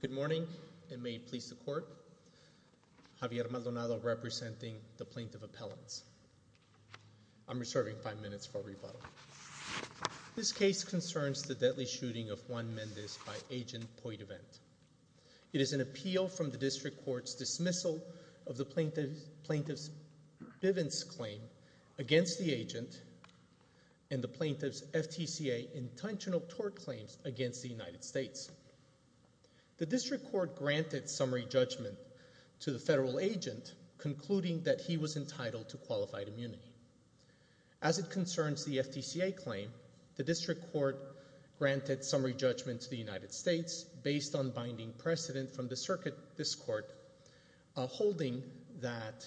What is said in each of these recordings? Good morning and may it please the court, Javier Maldonado representing the Plaintiff This case concerns the deadly shooting of Juan Mendez by Agent Poitevent. It is an appeal from the District Court's dismissal of the Plaintiff's Bivens claim against the agent and the Plaintiff's FTCA intentional tort claims against the United States. The District Court granted summary judgment to the federal agent concluding that he was entitled to qualified immunity. As it concerns the FTCA claim, the District Court granted summary judgment to the United States based on binding precedent from the circuit discord holding that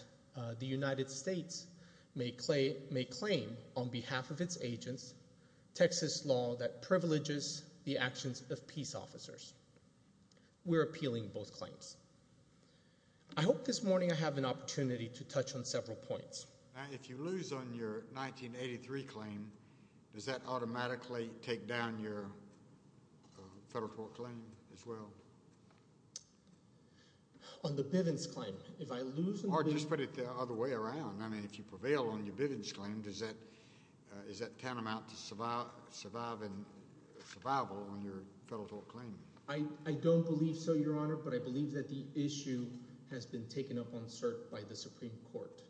the United States may claim, on behalf of its agents, Texas law that privileges the actions of peace officers. We are appealing both claims. I hope this morning I have an opportunity to touch on several points. If I lose on your 1983 claim, does that automatically take down your federal tort claim as well? On the Bivens claim? Or just put it the other way around. If you prevail on your Bivens claim, is that tantamount to survival on your federal tort claim? I don't believe so, Your Honor, but I believe that the issue has been taken up on cert by the Supreme Court.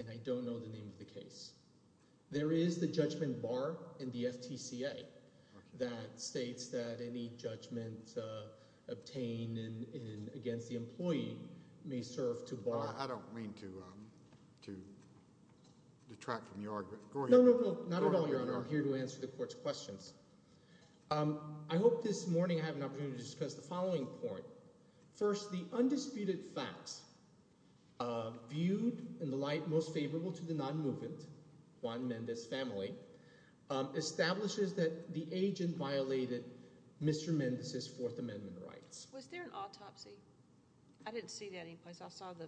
And I don't know the name of the case. There is the judgment bar in the FTCA that states that any judgment obtained against the employee may serve to bar— I don't mean to detract from your argument. Go ahead. No, no, no. Not at all, Your Honor. I'm here to answer the Court's questions. I hope this morning I have an opportunity to discuss the following point. First, the undisputed facts viewed in the light most favorable to the non-movement, Juan Mendez family, establishes that the agent violated Mr. Mendez's Fourth Amendment rights. Was there an autopsy? I didn't see that anyplace. I saw the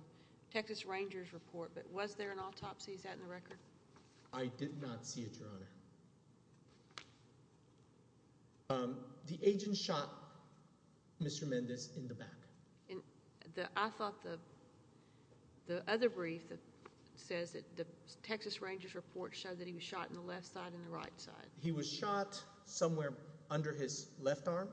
Texas Rangers report, but was there an autopsy? Is that in the record? The agent shot Mr. Mendez in the back. I thought the other brief says that the Texas Rangers report showed that he was shot in the left side and the right side. He was shot somewhere under his left arm,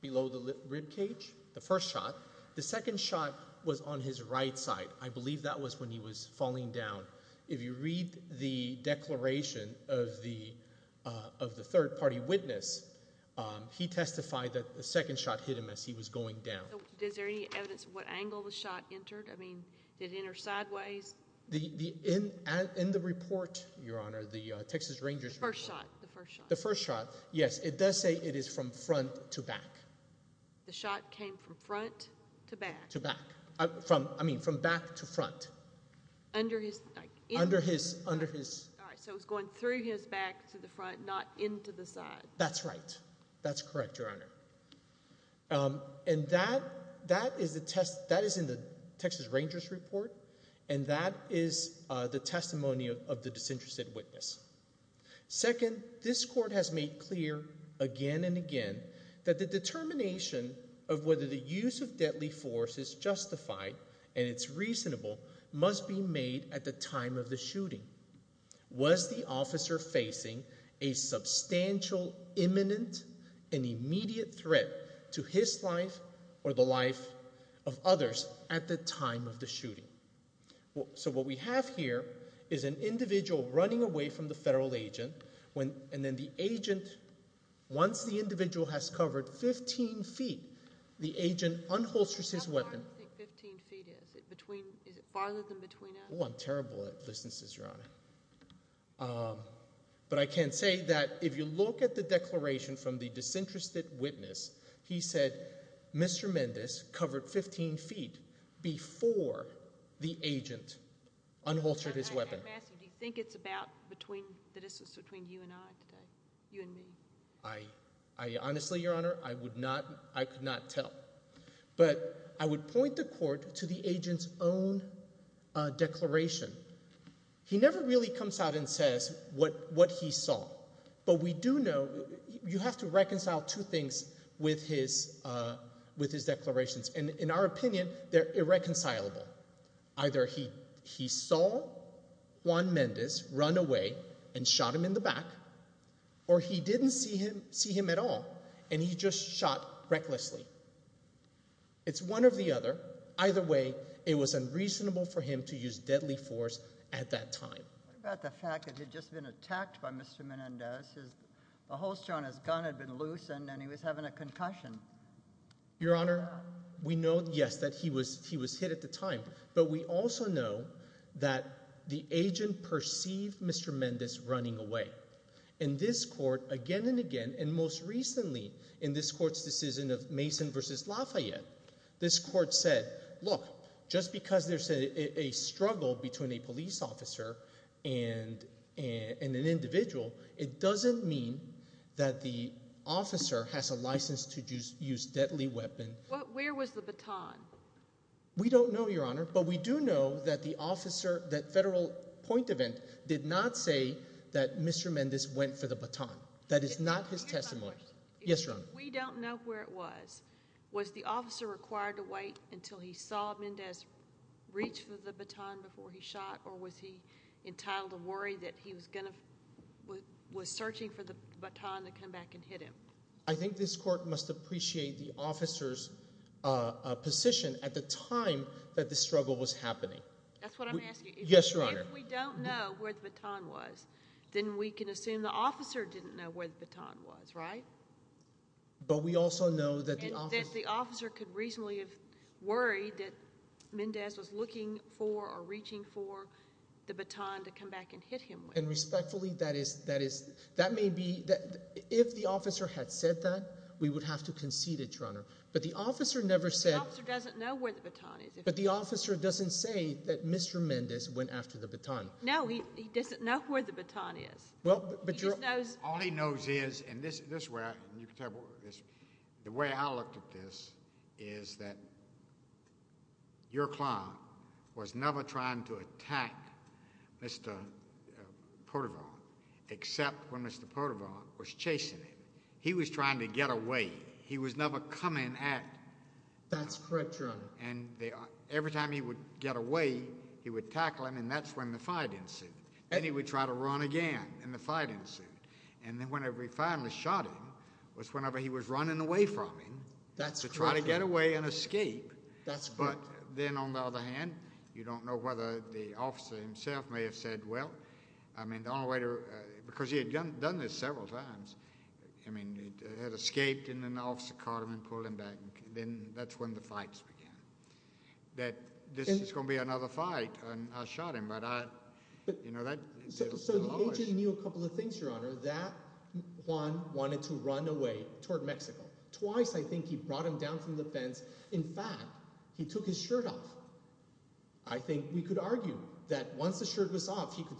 below the ribcage, the first shot. The second shot was on his right side. I believe that was when he was falling down. If you read the declaration of the third party witness, he testified that the second shot hit him as he was going down. Is there any evidence of what angle the shot entered? I mean, did it enter sideways? In the report, Your Honor, the Texas Rangers report. The first shot. The first shot, yes. It does say it is from front to back. The shot came from front to back. I mean, from back to front. Under his... Under his... So it was going through his back to the front, not into the side. That's right. That's correct, Your Honor. And that is in the Texas Rangers report, and that is the testimony of the disinterested witness. Second, this court has made clear again and again that the determination of whether the use of deadly force is justified and it's reasonable must be made at the time of the shooting. Was the officer facing a substantial, imminent, and immediate threat to his life or the life of others at the time of the shooting? So what we have here is an individual running away from the federal agent, and then the agent, once the individual has covered 15 feet, the agent unholsters his weapon. How far do you think 15 feet is? Is it farther than between us? Oh, I'm terrible at distances, Your Honor. But I can say that if you look at the declaration from the disinterested witness, he said Mr. Mendez covered 15 feet before the agent unholstered his weapon. I'm asking, do you think it's about between the distance between you and I today, you and me? I honestly, Your Honor, I would not, I could not tell. But I would point the court to the agent's own declaration. He never really comes out and says what he saw, but we do know, you have to reconcile two things with his declarations, and in our opinion, they're irreconcilable. Either he saw Juan Mendez run away and shot him in the back, or he didn't see him at all and he just shot recklessly. It's one or the other. Either way, it was unreasonable for him to use deadly force at that time. What about the fact that he'd just been attacked by Mr. Mendez, the holster on his gun had been loosened, and he was having a concussion? Your Honor, we know, yes, that he was hit at the time, but we also know that the agent perceived Mr. Mendez running away. In this court, again and again, and most recently in this court's decision of Mason v. Lafayette, this court said, look, just because there's a struggle between a police officer and an individual, it doesn't mean that the officer has a license to use deadly weapon. Where was the baton? We don't know, Your Honor, but we do know that the federal point of it did not say that Mr. Mendez went for the baton. That is not his testimony. If we don't know where it was, was the officer required to wait until he saw Mendez reach for the baton before he shot, or was he entitled to worry that he was searching for the baton to come back and hit him? I think this court must appreciate the officer's position at the time that the struggle was happening. That's what I'm asking. Yes, Your Honor. If we don't know where the baton was, then we can assume the officer didn't know where the baton was, right? But we also know that the officer— And that the officer could reasonably have worried that Mendez was looking for or reaching for the baton to come back and hit him with. And respectfully, that may be—if the officer had said that, we would have to concede it, Your Honor. But the officer never said— The officer doesn't know where the baton is. But the officer doesn't say that Mr. Mendez went after the baton. No, he doesn't know where the baton is. All he knows is—and this is where—the way I looked at this is that your client was never trying to attack Mr. Portervoir, except when Mr. Portervoir was chasing him. He was trying to get away. He was never coming at— Every time he would get away, he would tackle him, and that's when the fight ensued. And he would try to run again, and the fight ensued. And then whenever he finally shot him was whenever he was running away from him to try to get away and escape. But then, on the other hand, you don't know whether the officer himself may have said, Well, I mean, the only way to—because he had done this several times. I mean, he had escaped, and then the officer caught him and pulled him back. Then that's when the fights began. That this is going to be another fight, and I shot him, but I—you know, that— So the AG knew a couple of things, Your Honor, that Juan wanted to run away toward Mexico. Twice, I think, he brought him down from the fence. In fact, he took his shirt off. I think we could argue that once the shirt was off, he could—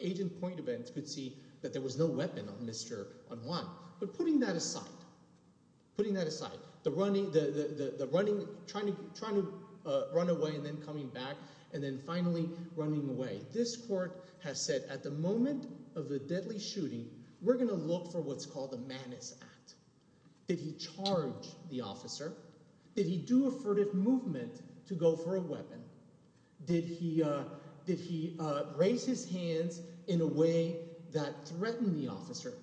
Agent Pointevent could see that there was no weapon on Mr. Juan. But putting that aside, putting that aside, the running—trying to run away and then coming back and then finally running away, this court has said at the moment of the deadly shooting, we're going to look for what's called a madness act. Did he charge the officer? Did he do a furtive movement to go for a weapon? Did he raise his hands in a way that threatened the officer?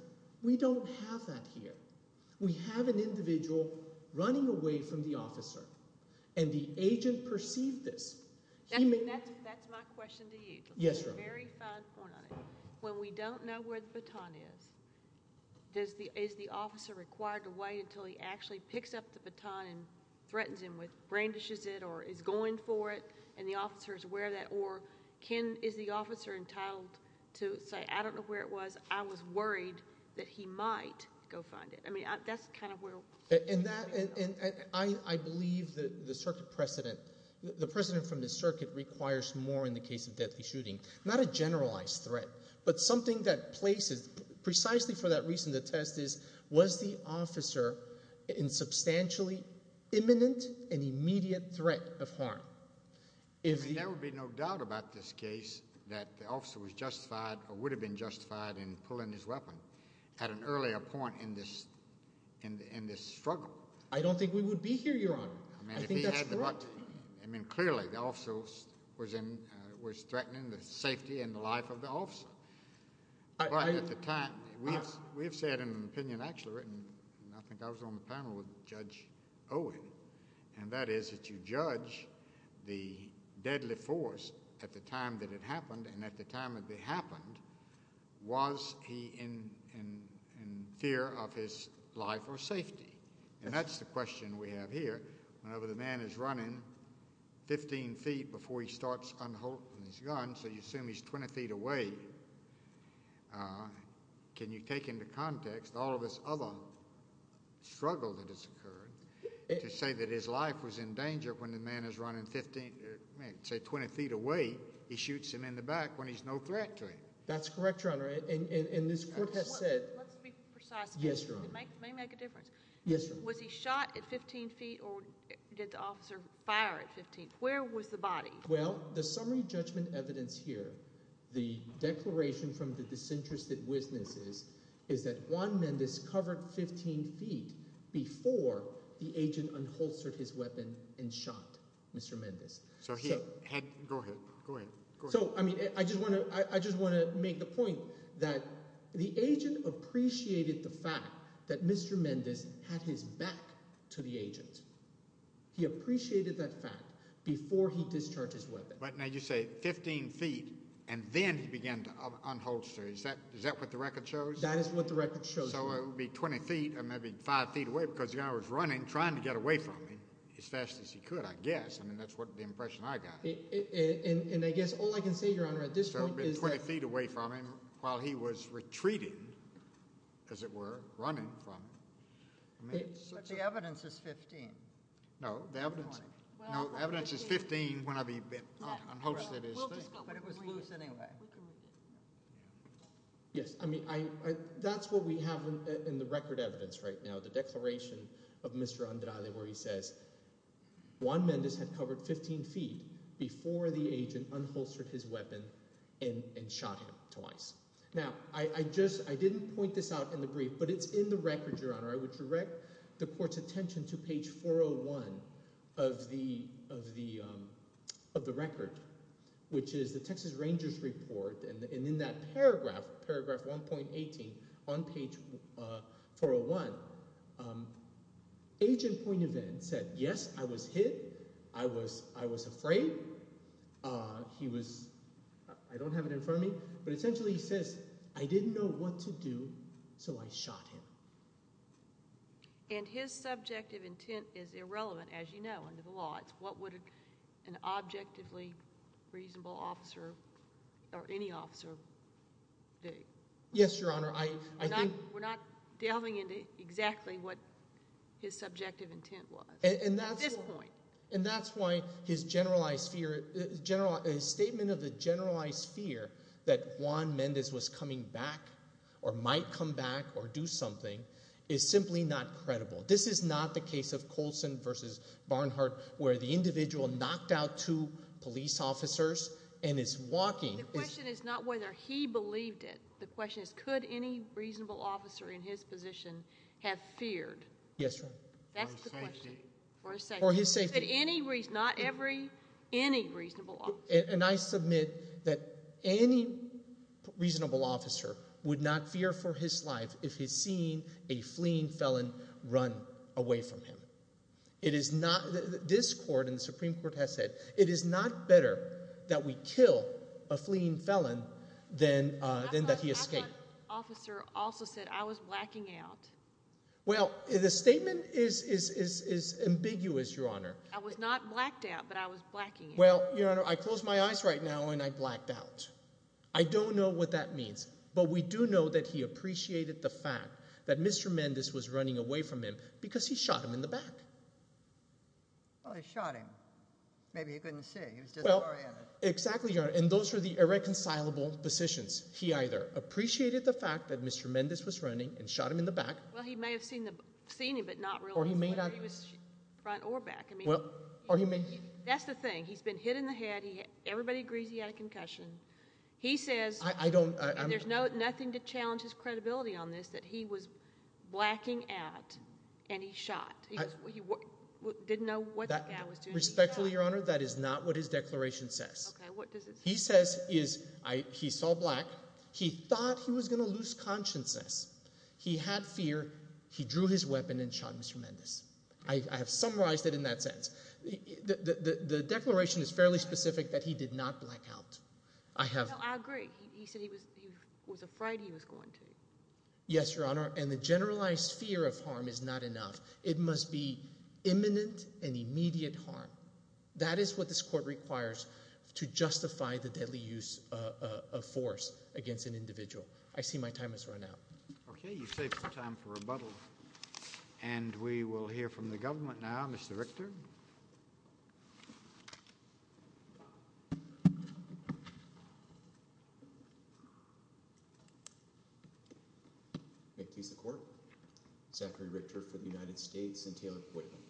We don't have that here. We have an individual running away from the officer, and the agent perceived this. That's my question to you. Yes, Your Honor. Very fine point on it. When we don't know where the baton is, is the officer required to wait until he actually picks up the baton and threatens him with—brain dishes it or is going for it, and the officer is aware of that? Or can—is the officer entitled to say, I don't know where it was. I was worried that he might go find it. I mean that's kind of where— And that—and I believe that the circuit precedent—the precedent from the circuit requires more in the case of deadly shooting. Not a generalized threat, but something that places—precisely for that reason the test is, was the officer in substantially imminent and immediate threat of harm? I mean there would be no doubt about this case that the officer was justified or would have been justified in pulling his weapon at an earlier point in this struggle. I don't think we would be here, Your Honor. I think that's correct. I mean clearly the officer was in—was threatening the safety and the life of the officer. But at the time—we have said in an opinion actually written, and I think I was on the panel with Judge Owen, and that is that you judge the deadly force at the time that it happened, and at the time that it happened, was he in fear of his life or safety? And that's the question we have here. Whenever the man is running 15 feet before he starts unholding his gun, so you assume he's 20 feet away, can you take into context all of this other struggle that has occurred to say that his life was in danger when the man is running 15—say 20 feet away, he shoots him in the back when he's no threat to him? That's correct, Your Honor. And this court has said— Let's be precise. Yes, Your Honor. It may make a difference. Yes, Your Honor. Was he shot at 15 feet or did the officer fire at 15? Where was the body? Well, the summary judgment evidence here, the declaration from the disinterested witnesses, is that Juan Mendes covered 15 feet before the agent unholstered his weapon and shot Mr. Mendes. So he had—go ahead. Go ahead. So, I mean, I just want to make the point that the agent appreciated the fact that Mr. Mendes had his back to the agent. He appreciated that fact before he discharged his weapon. But now you say 15 feet and then he began to unholster. Is that what the record shows? That is what the record shows, Your Honor. So it would be 20 feet or maybe 5 feet away because the guy was running, trying to get away from me as fast as he could, I guess. I mean that's the impression I got. And I guess all I can say, Your Honor, at this point is that— So 20 feet away from him while he was retreating, as it were, running from me. But the evidence is 15. No, the evidence is 15 whenever he unholstered his thing. But it was loose anyway. Yes, I mean that's what we have in the record evidence right now, the declaration of Mr. Andrade where he says, Juan Mendes had covered 15 feet before the agent unholstered his weapon and shot him twice. Now, I didn't point this out in the brief, but it's in the record, Your Honor. I would direct the court's attention to page 401 of the record, which is the Texas Rangers report. And in that paragraph, paragraph 1.18 on page 401, Agent Point of End said, yes, I was hit. I was afraid. He was—I don't have it in front of me, but essentially he says, I didn't know what to do, so I shot him. And his subjective intent is irrelevant, as you know, under the law. It's what would an objectively reasonable officer or any officer do. Yes, Your Honor, I think— We're not delving into exactly what his subjective intent was at this point. And that's why his generalized fear—his statement of the generalized fear that Juan Mendes was coming back or might come back or do something is simply not credible. This is not the case of Coulson v. Barnhart where the individual knocked out two police officers and is walking— The question is not whether he believed it. The question is could any reasonable officer in his position have feared. Yes, Your Honor. That's the question. For his safety. For his safety. Not every—any reasonable officer. And I submit that any reasonable officer would not fear for his life if he's seen a fleeing felon run away from him. It is not—this court and the Supreme Court has said it is not better that we kill a fleeing felon than that he escape. Officer also said I was blacking out. Well, the statement is ambiguous, Your Honor. I was not blacked out, but I was blacking out. Well, Your Honor, I closed my eyes right now and I blacked out. I don't know what that means, but we do know that he appreciated the fact that Mr. Mendes was running away from him because he shot him in the back. Well, he shot him. Maybe he couldn't see. He was disoriented. Exactly, Your Honor. And those were the irreconcilable positions. He either appreciated the fact that Mr. Mendes was running and shot him in the back— Well, he may have seen him but not realized whether he was front or back. That's the thing. He's been hit in the head. Everybody agrees he had a concussion. He says— I don't— And there's nothing to challenge his credibility on this that he was blacking out and he shot. He didn't know what the guy was doing. Respectfully, Your Honor, that is not what his declaration says. Okay, what does it say? He says he saw black. He thought he was going to lose consciousness. He had fear. He drew his weapon and shot Mr. Mendes. I have summarized it in that sense. The declaration is fairly specific that he did not black out. I have— No, I agree. He said he was afraid he was going to. Yes, Your Honor, and the generalized fear of harm is not enough. It must be imminent and immediate harm. That is what this court requires to justify the deadly use of force against an individual. I see my time has run out. Okay, you've saved some time for rebuttal. And we will hear from the government now. Mr. Richter. May it please the Court. Zachary Richter for the United States and Taylor Poitiman.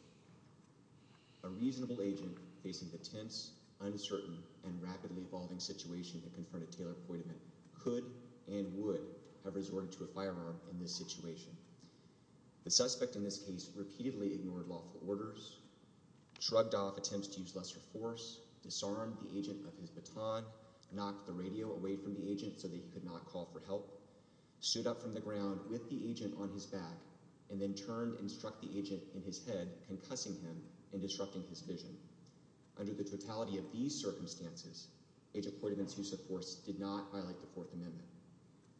A reasonable agent facing the tense, uncertain, and rapidly evolving situation that confronted Taylor Poitiman could and would have resorted to a firearm in this situation. The suspect in this case repeatedly ignored lawful orders, shrugged off attempts to use lesser force, disarmed the agent of his baton, knocked the radio away from the agent so that he could not call for help, stood up from the ground with the agent on his back, and then turned and struck the agent in his head, concussing him and disrupting his vision. Under the totality of these circumstances, Agent Poitiman's use of force did not violate the Fourth Amendment,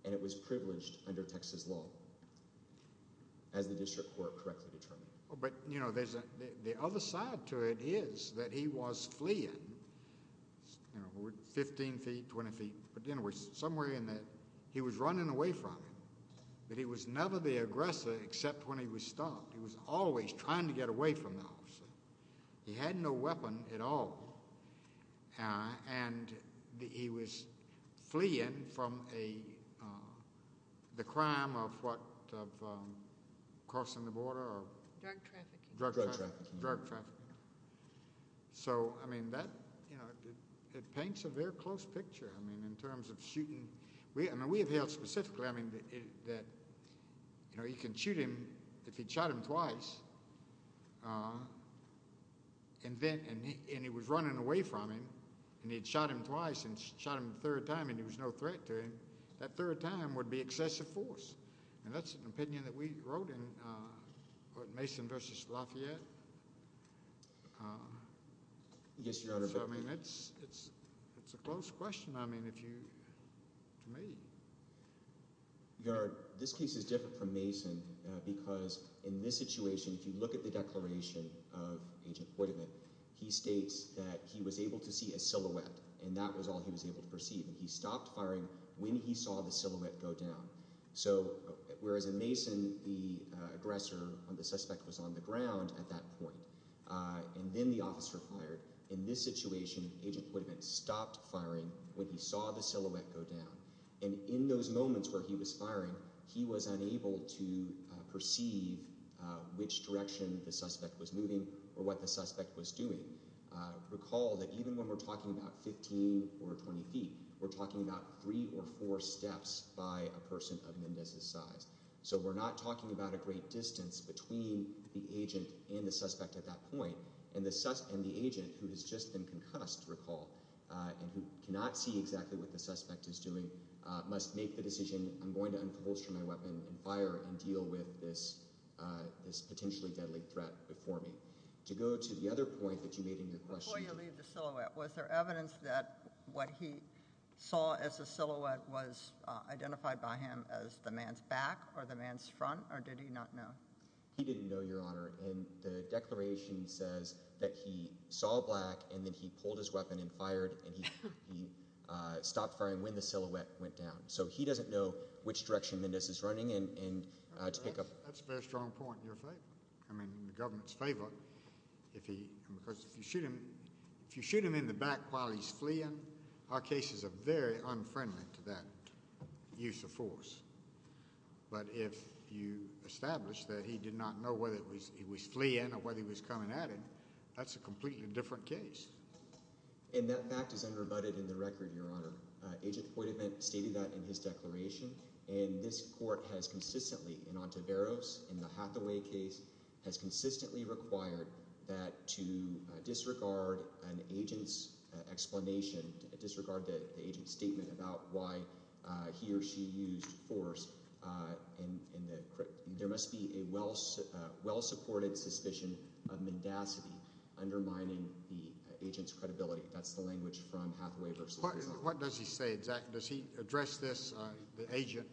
and it was privileged under Texas law, as the district court correctly determined. But, you know, the other side to it is that he was fleeing, you know, 15 feet, 20 feet, but somewhere in that he was running away from it. But he was never the aggressor except when he was stopped. He was always trying to get away from the officer. He had no weapon at all, and he was fleeing from the crime of what, crossing the border or? Drug trafficking. Drug trafficking. Drug trafficking. So, I mean, that, you know, it paints a very close picture, I mean, in terms of shooting. I mean, we have held specifically, I mean, that, you know, you can shoot him if he'd shot him twice, and he was running away from him, and he'd shot him twice and shot him a third time and there was no threat to him. That third time would be excessive force, and that's an opinion that we wrote in Mason v. Lafayette. Yes, Your Honor. So, I mean, it's a close question. I mean, if you, to me. Your Honor, this case is different from Mason because in this situation, if you look at the declaration of Agent Poydivant, he states that he was able to see a silhouette, and that was all he was able to perceive, and he stopped firing when he saw the silhouette go down. So, whereas in Mason, the aggressor, the suspect was on the ground at that point, and then the officer fired, in this situation, Agent Poydivant stopped firing when he saw the silhouette go down. And in those moments where he was firing, he was unable to perceive which direction the suspect was moving or what the suspect was doing. Recall that even when we're talking about 15 or 20 feet, we're talking about three or four steps by a person of Mendez's size. So we're not talking about a great distance between the agent and the suspect at that point, and the agent, who has just been concussed, recall, and who cannot see exactly what the suspect is doing, must make the decision, I'm going to unfold my weapon and fire and deal with this potentially deadly threat before me. To go to the other point that you made in your question. Before you leave the silhouette, was there evidence that what he saw as a silhouette was identified by him as the man's back or the man's front, or did he not know? He didn't know, Your Honor, and the declaration says that he saw black and then he pulled his weapon and fired and he stopped firing when the silhouette went down. So he doesn't know which direction Mendez is running and to pick up. That's a very strong point in your favor. I mean, the government's favorite, because if you shoot him in the back while he's fleeing, our cases are very unfriendly to that use of force. But if you establish that he did not know whether he was fleeing or whether he was coming at him, that's a completely different case. And that fact is undervoted in the record, Your Honor. Agent Hoitavant stated that in his declaration, and this court has consistently, in Ontiveros, in the Hathaway case, has consistently required that to disregard an agent's explanation, disregard the agent's statement about why he or she used force. There must be a well-supported suspicion of mendacity undermining the agent's credibility. That's the language from Hathaway v. Hoitavant. What does he say exactly? Does he address this, the agent,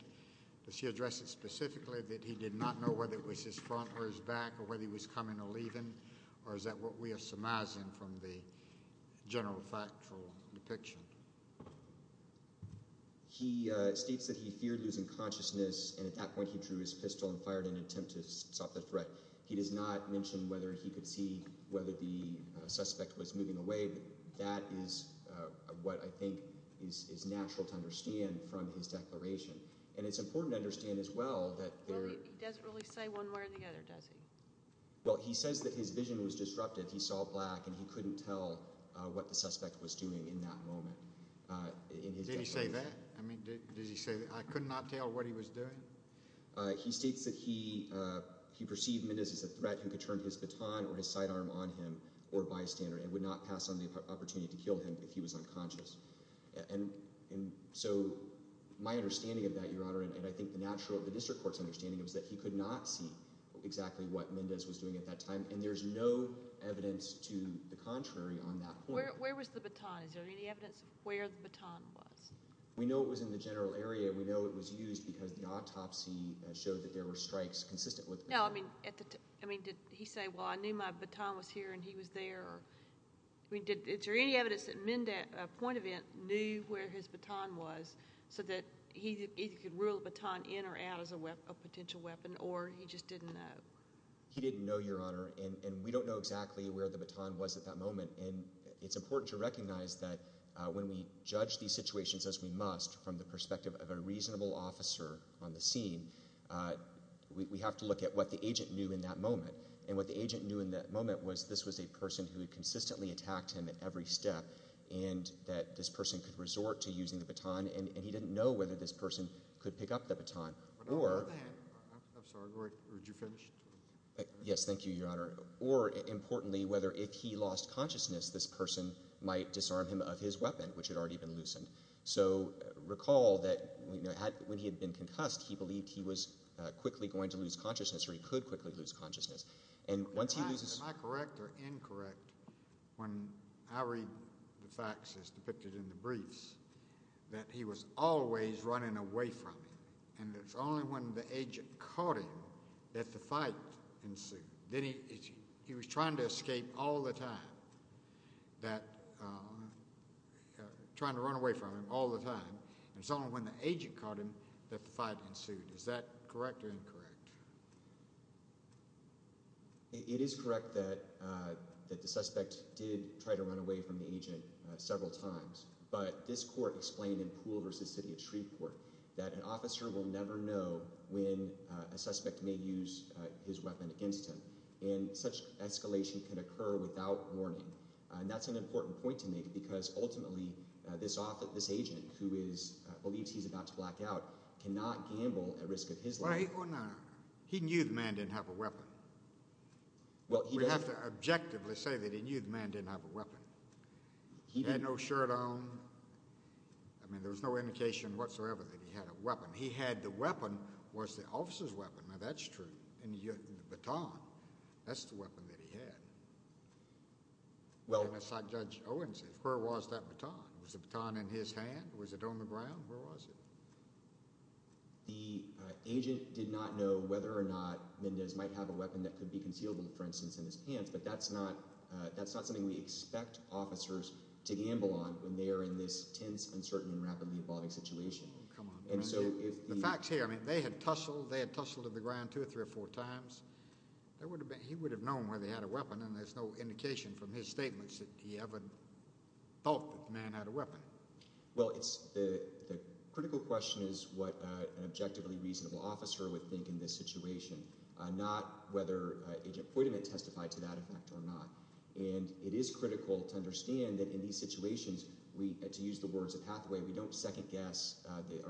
does he address it specifically, that he did not know whether it was his front or his back or whether he was coming or leaving, or is that what we are surmising from the general factual depiction? He states that he feared losing consciousness, and at that point he drew his pistol and fired in an attempt to stop the threat. He does not mention whether he could see whether the suspect was moving away. That is what I think is natural to understand from his declaration. And it's important to understand as well that there— He doesn't really say one way or the other, does he? Well, he says that his vision was disrupted, he saw black, and he couldn't tell what the suspect was doing in that moment. Did he say that? I mean, did he say that? I could not tell what he was doing? He states that he perceived Mendez as a threat who could turn his baton or his sidearm on him or bystander and would not pass on the opportunity to kill him if he was unconscious. And so my understanding of that, Your Honor, and I think the natural— is that he could not see exactly what Mendez was doing at that time, and there's no evidence to the contrary on that point. Where was the baton? Is there any evidence of where the baton was? We know it was in the general area. We know it was used because the autopsy showed that there were strikes consistent with— No, I mean, did he say, well, I knew my baton was here and he was there? I mean, is there any evidence that Mendez, point of event, knew where his baton was so that he could reel the baton in or out as a potential weapon, or he just didn't know? He didn't know, Your Honor, and we don't know exactly where the baton was at that moment. And it's important to recognize that when we judge these situations as we must from the perspective of a reasonable officer on the scene, we have to look at what the agent knew in that moment. And what the agent knew in that moment was this was a person who consistently attacked him at every step and that this person could resort to using the baton, and he didn't know whether this person could pick up the baton or— On the other hand—I'm sorry. Would you finish? Yes, thank you, Your Honor. Or importantly, whether if he lost consciousness, this person might disarm him of his weapon, which had already been loosened. So recall that when he had been concussed, he believed he was quickly going to lose consciousness or he could quickly lose consciousness. Am I correct or incorrect when I read the facts as depicted in the briefs that he was always running away from him, and it's only when the agent caught him that the fight ensued? He was trying to escape all the time, trying to run away from him all the time, and it's only when the agent caught him that the fight ensued. Is that correct or incorrect? It is correct that the suspect did try to run away from the agent several times, but this court explained in Poole v. City of Shreveport that an officer will never know when a suspect may use his weapon against him, and such escalation can occur without warning. And that's an important point to make because ultimately this agent, who believes he's about to black out, cannot gamble at risk of his life. He knew the man didn't have a weapon. We have to objectively say that he knew the man didn't have a weapon. He had no shirt on. I mean, there was no indication whatsoever that he had a weapon. He had the weapon was the officer's weapon. Now, that's true. And the baton, that's the weapon that he had. And it's like Judge Owens said, where was that baton? Was the baton in his hand? Was it on the ground? Where was it? The agent did not know whether or not Mendez might have a weapon that could be concealed, for instance, in his pants. But that's not something we expect officers to gamble on when they are in this tense, uncertain, and rapidly evolving situation. Come on, Mendez. The fact's here. I mean, they had tussled. They had tussled to the ground two or three or four times. He would have known whether he had a weapon, and there's no indication from his statements that he ever thought that the man had a weapon. Well, the critical question is what an objectively reasonable officer would think in this situation, not whether Agent Poitiment testified to that effect or not. And it is critical to understand that in these situations, to use the words of Hathaway, we don't second-guess the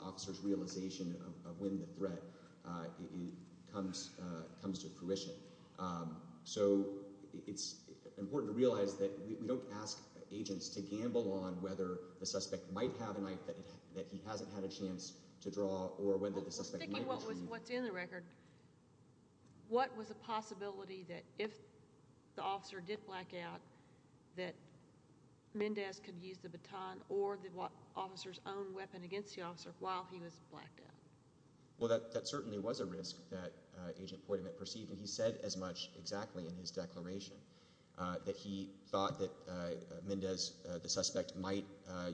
officers' realization of when the threat comes to fruition. So it's important to realize that we don't ask agents to gamble on whether the suspect might have a knife that he hasn't had a chance to draw or whether the suspect might have a chance to use it. Well, sticking with what's in the record, what was the possibility that if the officer did black out, that Mendez could use the baton or the officer's own weapon against the officer while he was blacked out? Well, that certainly was a risk that Agent Poitiment perceived, and he said as much exactly in his declaration that he thought that Mendez, the suspect, might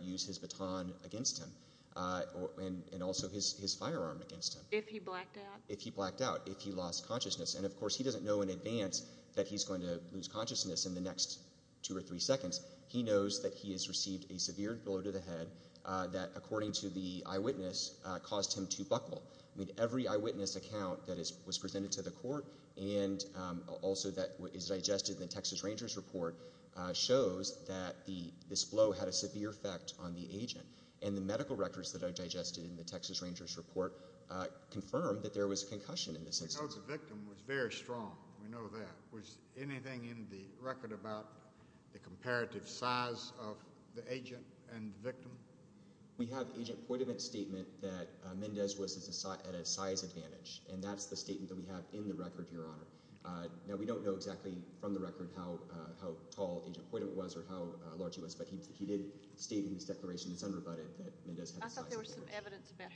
use his baton against him and also his firearm against him. If he blacked out? If he blacked out, if he lost consciousness. And, of course, he doesn't know in advance that he's going to lose consciousness in the next two or three seconds. He knows that he has received a severe blow to the head that, according to the eyewitness, caused him to buckle. I mean, every eyewitness account that was presented to the court and also that is digested in the Texas Rangers report shows that this blow had a severe effect on the agent. And the medical records that are digested in the Texas Rangers report confirm that there was a concussion in the suspect. The victim was very strong. We know that. Was anything in the record about the comparative size of the agent and the victim? We have Agent Poitiment's statement that Mendez was at a size advantage, and that's the statement that we have in the record, Your Honor. Now, we don't know exactly from the record how tall Agent Poitiment was or how large he was, but he did state in his declaration, it's unrebutted, that Mendez had a size advantage. I thought there was some evidence about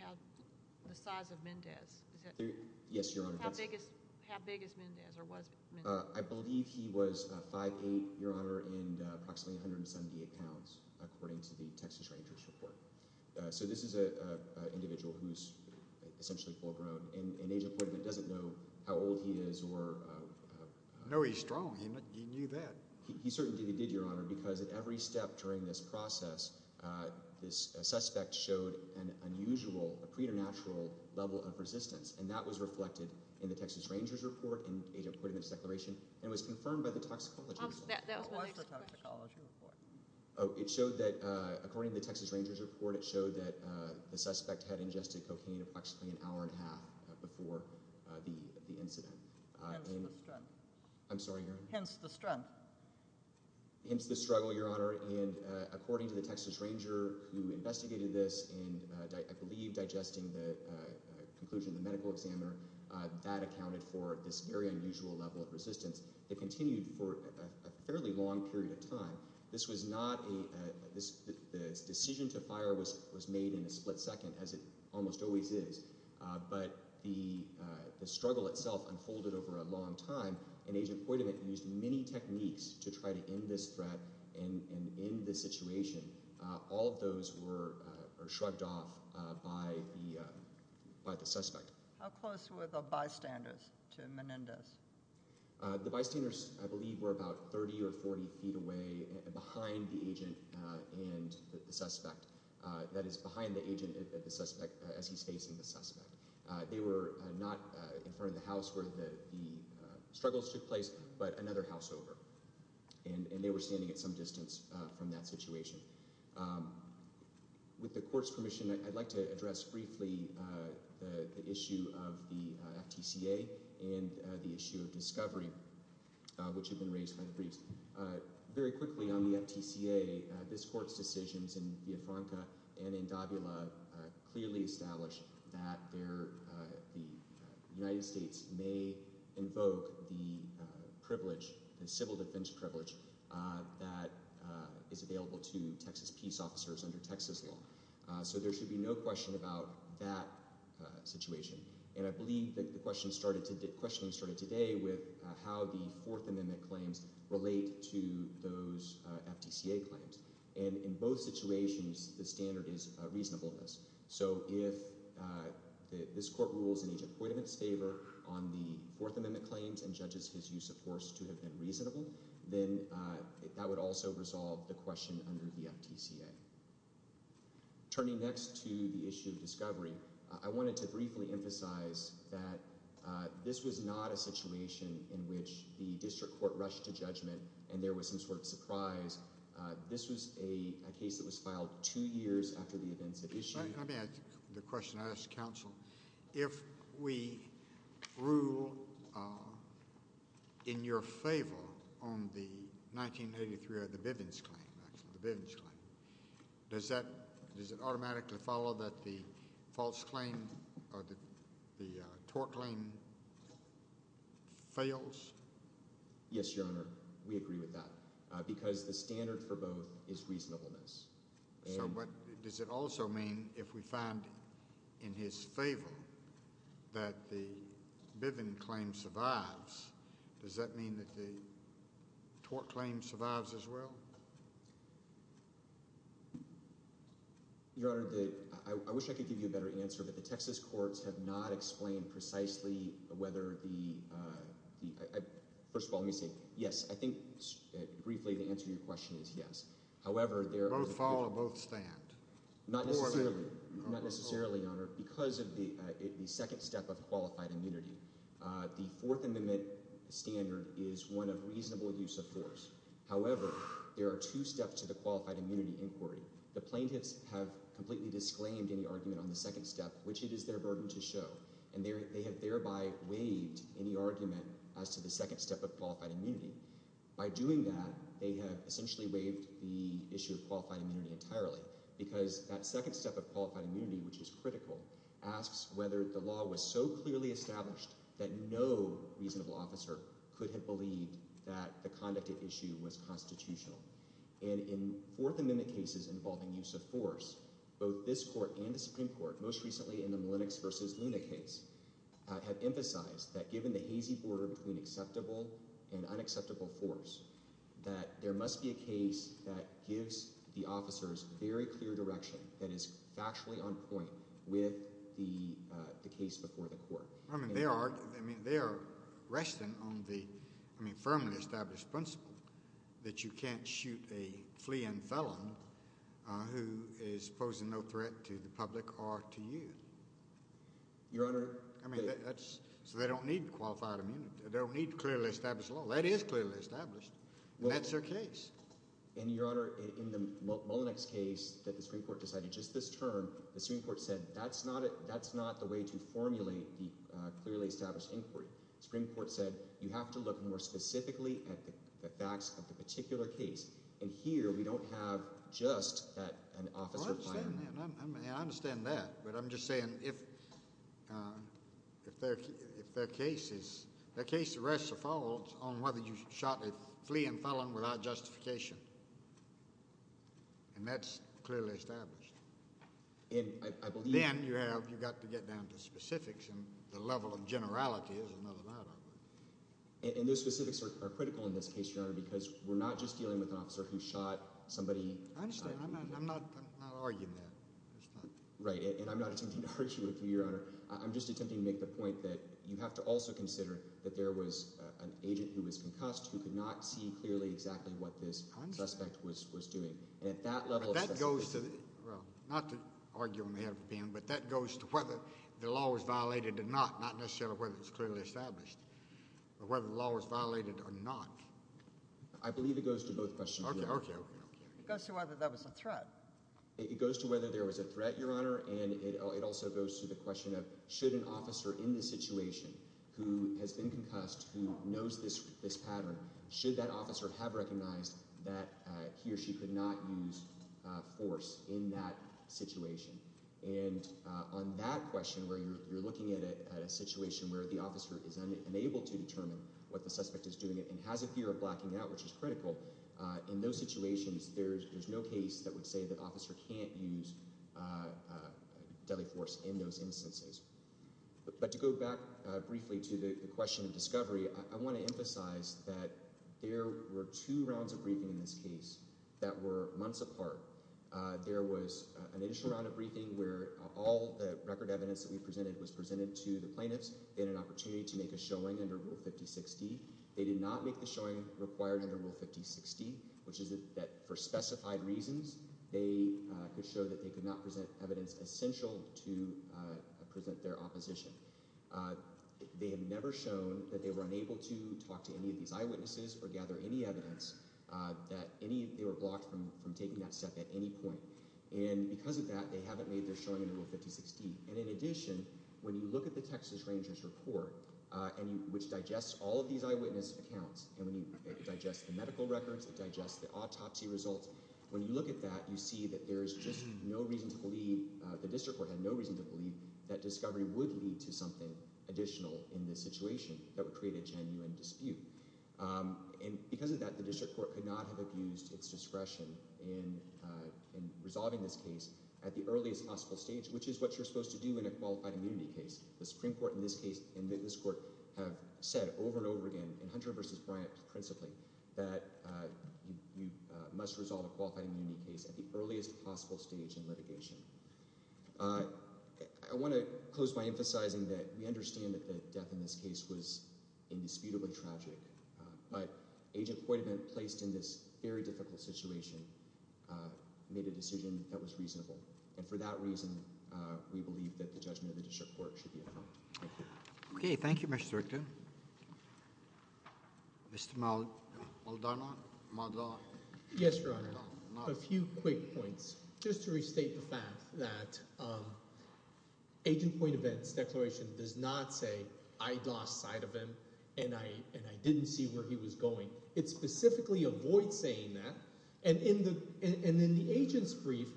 the size of Mendez. Yes, Your Honor. How big is Mendez or was Mendez? I believe he was 5'8", Your Honor, and approximately 178 pounds, according to the Texas Rangers report. So this is an individual who is essentially full grown, and Agent Poitiment doesn't know how old he is. No, he's strong. He knew that. He certainly did, Your Honor, because at every step during this process, this suspect showed an unusual, a preternatural level of resistance, and that was reflected in the Texas Rangers report and Agent Poitiment's declaration, and was confirmed by the toxicology report. That was the toxicology report. According to the Texas Rangers report, it showed that the suspect had ingested cocaine approximately an hour and a half before the incident. Hence the strength. I'm sorry, Your Honor? Hence the strength. Hence the struggle, Your Honor, and according to the Texas Ranger who investigated this and I believe digesting the conclusion of the medical examiner, that accounted for this very unusual level of resistance. It continued for a fairly long period of time. This was not a decision to fire was made in a split second, as it almost always is, but the struggle itself unfolded over a long time, and Agent Poitiment used many techniques to try to end this threat and end this situation. All of those were shrugged off by the suspect. How close were the bystanders to Menendez? The bystanders, I believe, were about 30 or 40 feet away behind the agent and the suspect. That is, behind the agent and the suspect as he's facing the suspect. They were not in front of the house where the struggles took place, but another house over, and they were standing at some distance from that situation. With the court's permission, I'd like to address briefly the issue of the FTCA and the issue of discovery, which have been raised by the briefs. Very quickly on the FTCA, this court's decisions in Villafranca and in Dabula clearly establish that the United States may invoke the civil defense privilege that is available to Texas peace officers under Texas law, so there should be no question about that situation. I believe the questioning started today with how the Fourth Amendment claims relate to those FTCA claims. In both situations, the standard is reasonableness, so if this court rules in each appointment's favor on the Fourth Amendment claims and judges his use of force to have been reasonable, then that would also resolve the question under the FTCA. Turning next to the issue of discovery, I wanted to briefly emphasize that this was not a situation in which the district court rushed to judgment and there was some sort of surprise. This was a case that was filed two years after the events at issue. Let me ask the question I asked counsel. If we rule in your favor on the 1983 or the Bivens claim, actually, the Bivens claim, does it automatically follow that the false claim or the tort claim fails? Yes, Your Honor, we agree with that because the standard for both is reasonableness. So does it also mean if we find in his favor that the Bivens claim survives, does that mean that the tort claim survives as well? Your Honor, I wish I could give you a better answer, but the Texas courts have not explained precisely whether the—first of all, let me say yes. I think briefly the answer to your question is yes. However, there are— Both fall or both stand? Not necessarily, Your Honor, because of the second step of qualified immunity. The Fourth Amendment standard is one of reasonable use of force. However, there are two steps to the qualified immunity inquiry. The plaintiffs have completely disclaimed any argument on the second step, which it is their burden to show, and they have thereby waived any argument as to the second step of qualified immunity. By doing that, they have essentially waived the issue of qualified immunity entirely because that second step of qualified immunity, which is critical, asks whether the law was so clearly established that no reasonable officer could have believed that the conduct at issue was constitutional. And in Fourth Amendment cases involving use of force, both this court and the Supreme Court, most recently in the Milinex v. Luna case, have emphasized that given the hazy border between acceptable and unacceptable force, that there must be a case that gives the officers very clear direction that is factually on point with the case before the court. I mean, they are resting on the firmly established principle that you can't shoot a fleeing felon who is posing no threat to the public or to you. So they don't need qualified immunity. They don't need clearly established law. That is clearly established, and that's their case. And, Your Honor, in the Milinex case that the Supreme Court decided just this term, the Supreme Court said that's not the way to formulate the clearly established inquiry. The Supreme Court said you have to look more specifically at the facts of the particular case, and here we don't have just that an officer— Well, I understand that, but I'm just saying if their case is— their case rests or falls on whether you shot a fleeing felon without justification, and that's clearly established. Then you've got to get down to specifics, and the level of generality is another matter. And those specifics are critical in this case, Your Honor, because we're not just dealing with an officer who shot somebody— I understand. I'm not arguing that. Right, and I'm not attempting to argue with you, Your Honor. I'm just attempting to make the point that you have to also consider that there was an agent who was concussed who could not see clearly exactly what this suspect was doing. But that goes to—well, not to argue on behalf of the panel, but that goes to whether the law was violated or not, not necessarily whether it's clearly established, but whether the law was violated or not. I believe it goes to both questions, Your Honor. It goes to whether there was a threat. It goes to whether there was a threat, Your Honor, and it also goes to the question of should an officer in this situation who has been concussed, who knows this pattern, should that officer have recognized that he or she could not use force in that situation. And on that question, where you're looking at a situation where the officer is unable to determine what the suspect is doing and has a fear of blacking out, which is critical, in those situations there's no case that would say the officer can't use deadly force in those instances. But to go back briefly to the question of discovery, I want to emphasize that there were two rounds of briefing in this case that were months apart. There was an initial round of briefing where all the record evidence that we presented was presented to the plaintiffs. They had an opportunity to make a showing under Rule 5060. They did not make the showing required under Rule 5060, which is that for specified reasons they could show that they could not present evidence essential to present their opposition. They have never shown that they were unable to talk to any of these eyewitnesses or gather any evidence that they were blocked from taking that step at any point. And because of that, they haven't made their showing under Rule 5060. And in addition, when you look at the Texas Rangers report, which digests all of these eyewitness accounts, and when you digest the medical records, it digests the autopsy results, when you look at that, you see that there is just no reason to believe, the district court had no reason to believe that discovery would lead to something additional in this situation that would create a genuine dispute. And because of that, the district court could not have abused its discretion in resolving this case at the earliest possible stage, which is what you're supposed to do in a qualified immunity case. The Supreme Court in this case, in this court, have said over and over again, in Hunter v. Bryant principally, that you must resolve a qualified immunity case at the earliest possible stage in litigation. I want to close by emphasizing that we understand that the death in this case was indisputably tragic, but Agent Poitavent, placed in this very difficult situation, made a decision that was reasonable. And for that reason, we believe that the judgment of the district court should be affirmed. Thank you. Okay. Thank you, Mr. Zuercher. Mr. Muldoon. Muldoon. Yes, Your Honor. A few quick points. Just to restate the fact that Agent Poitavent's declaration does not say, I lost sight of him, and I didn't see where he was going. It specifically avoids saying that. And in the agent's brief,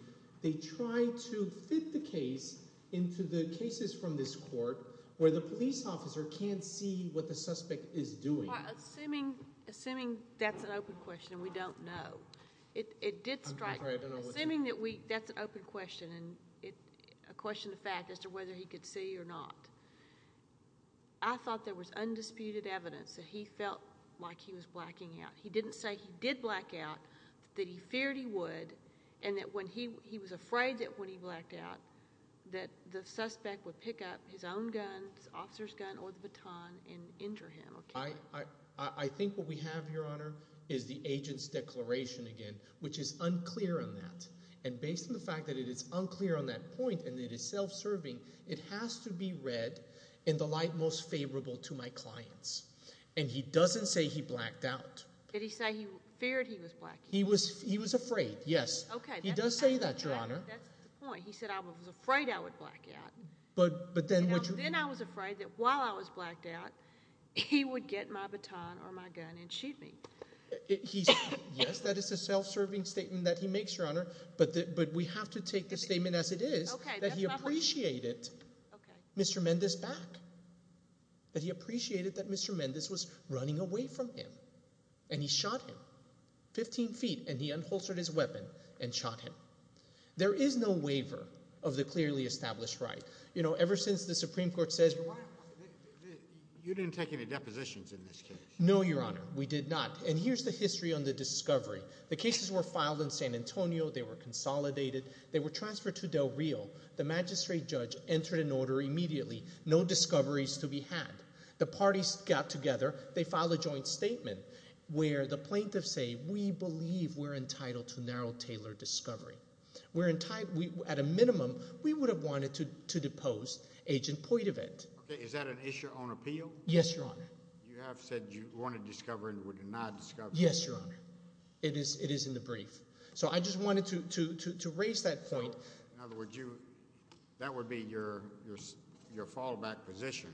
they try to fit the case into the cases from this court where the police officer can't see what the suspect is doing. Assuming that's an open question and we don't know. It did strike me. Assuming that's an open question and a question of fact as to whether he could see or not, I thought there was undisputed evidence that he felt like he was blacking out. He didn't say he did black out, that he feared he would, and that when he was afraid that when he blacked out, that the suspect would pick up his own gun, his officer's gun or the baton, and injure him. I think what we have, Your Honor, is the agent's declaration again, which is unclear on that. And based on the fact that it is unclear on that point and it is self-serving, it has to be read in the light most favorable to my clients. And he doesn't say he blacked out. Did he say he feared he was blacking out? He was afraid, yes. He does say that, Your Honor. That's the point. He said I was afraid I would black out. Then I was afraid that while I was blacked out, he would get my baton or my gun and shoot me. Yes, that is a self-serving statement that he makes, Your Honor, but we have to take the statement as it is, that he appreciated Mr. Mendes' back. That he appreciated that Mr. Mendes was running away from him. And he shot him, 15 feet, and he unholstered his weapon and shot him. There is no waiver of the clearly established right. You know, ever since the Supreme Court says— You didn't take any depositions in this case. No, Your Honor, we did not. And here's the history on the discovery. The cases were filed in San Antonio. They were consolidated. They were transferred to Del Rio. The magistrate judge entered an order immediately. No discoveries to be had. The parties got together. They filed a joint statement where the plaintiffs say we believe we're entitled to narrow, tailored discovery. We're entitled—at a minimum, we would have wanted to depose Agent Poitouvet. Okay, is that an issue on appeal? Yes, Your Honor. You have said you want to discover and would not discover. Yes, Your Honor. It is in the brief. So I just wanted to raise that point. In other words, that would be your fallback position.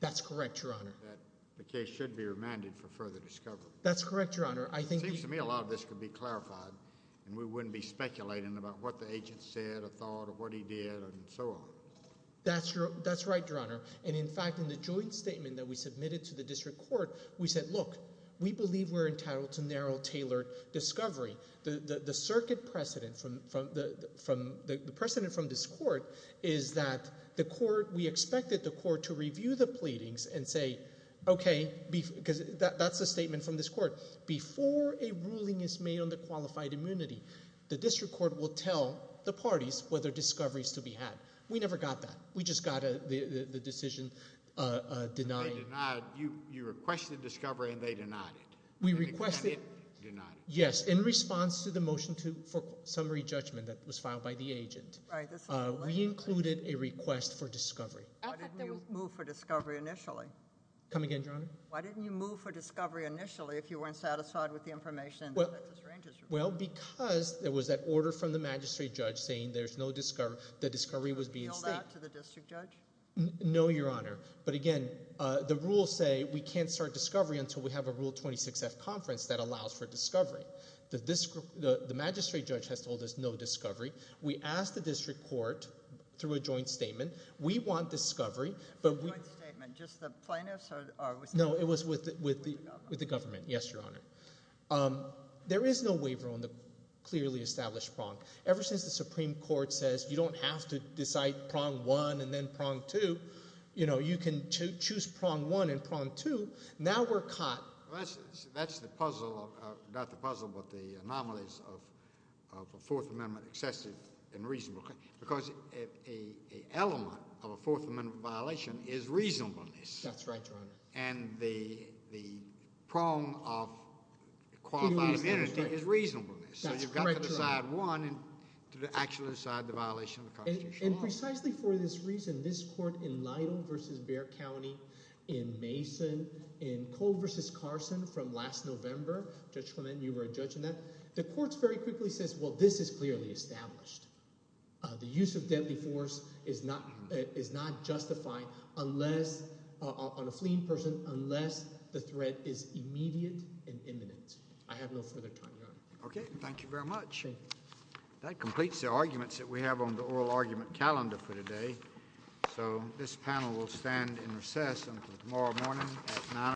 That's correct, Your Honor. That the case should be remanded for further discovery. That's correct, Your Honor. It seems to me a lot of this could be clarified and we wouldn't be speculating about what the agent said or thought or what he did and so on. That's right, Your Honor. And, in fact, in the joint statement that we submitted to the district court, we said, look, we believe we're entitled to narrow, tailored discovery. The circuit precedent from this court is that the court—we expected the court to review the pleadings and say, okay—because that's the statement from this court. Before a ruling is made on the qualified immunity, the district court will tell the parties whether discovery is to be had. We never got that. We just got the decision denied. We requested— They denied it. Denied it. Yes, in response to the motion for summary judgment that was filed by the agent. Right. We included a request for discovery. Why didn't you move for discovery initially? Come again, Your Honor? Why didn't you move for discovery initially if you weren't satisfied with the information? Well, because there was that order from the magistrate judge saying there's no discovery. The discovery was being— Did you appeal that to the district judge? No, Your Honor. But again, the rules say we can't start discovery until we have a Rule 26-F conference that allows for discovery. The magistrate judge has told us no discovery. We asked the district court through a joint statement. We want discovery, but we— Joint statement. Just the plaintiffs or— No, it was with the government, yes, Your Honor. There is no waiver on the clearly established prong. Ever since the Supreme Court says you don't have to decide prong one and then prong two, you know, you can choose prong one and prong two, now we're caught. That's the puzzle of—not the puzzle but the anomalies of a Fourth Amendment excessive and reasonable. Because an element of a Fourth Amendment violation is reasonableness. That's right, Your Honor. And the prong of qualified immunity is reasonableness. That's correct, Your Honor. So you've got to decide one and to actually decide the violation of the Constitution. And precisely for this reason, this court in Lytle v. Bexar County, in Mason, in Cole v. Carson from last November— Judge Clement, you were a judge in that. The court very quickly says, well, this is clearly established. The use of deadly force is not justified unless—on a fleeing person, unless the threat is immediate and imminent. I have no further time, Your Honor. Okay. Thank you very much. That completes the arguments that we have on the oral argument calendar for today. So this panel will stand in recess until tomorrow morning at 9 a.m.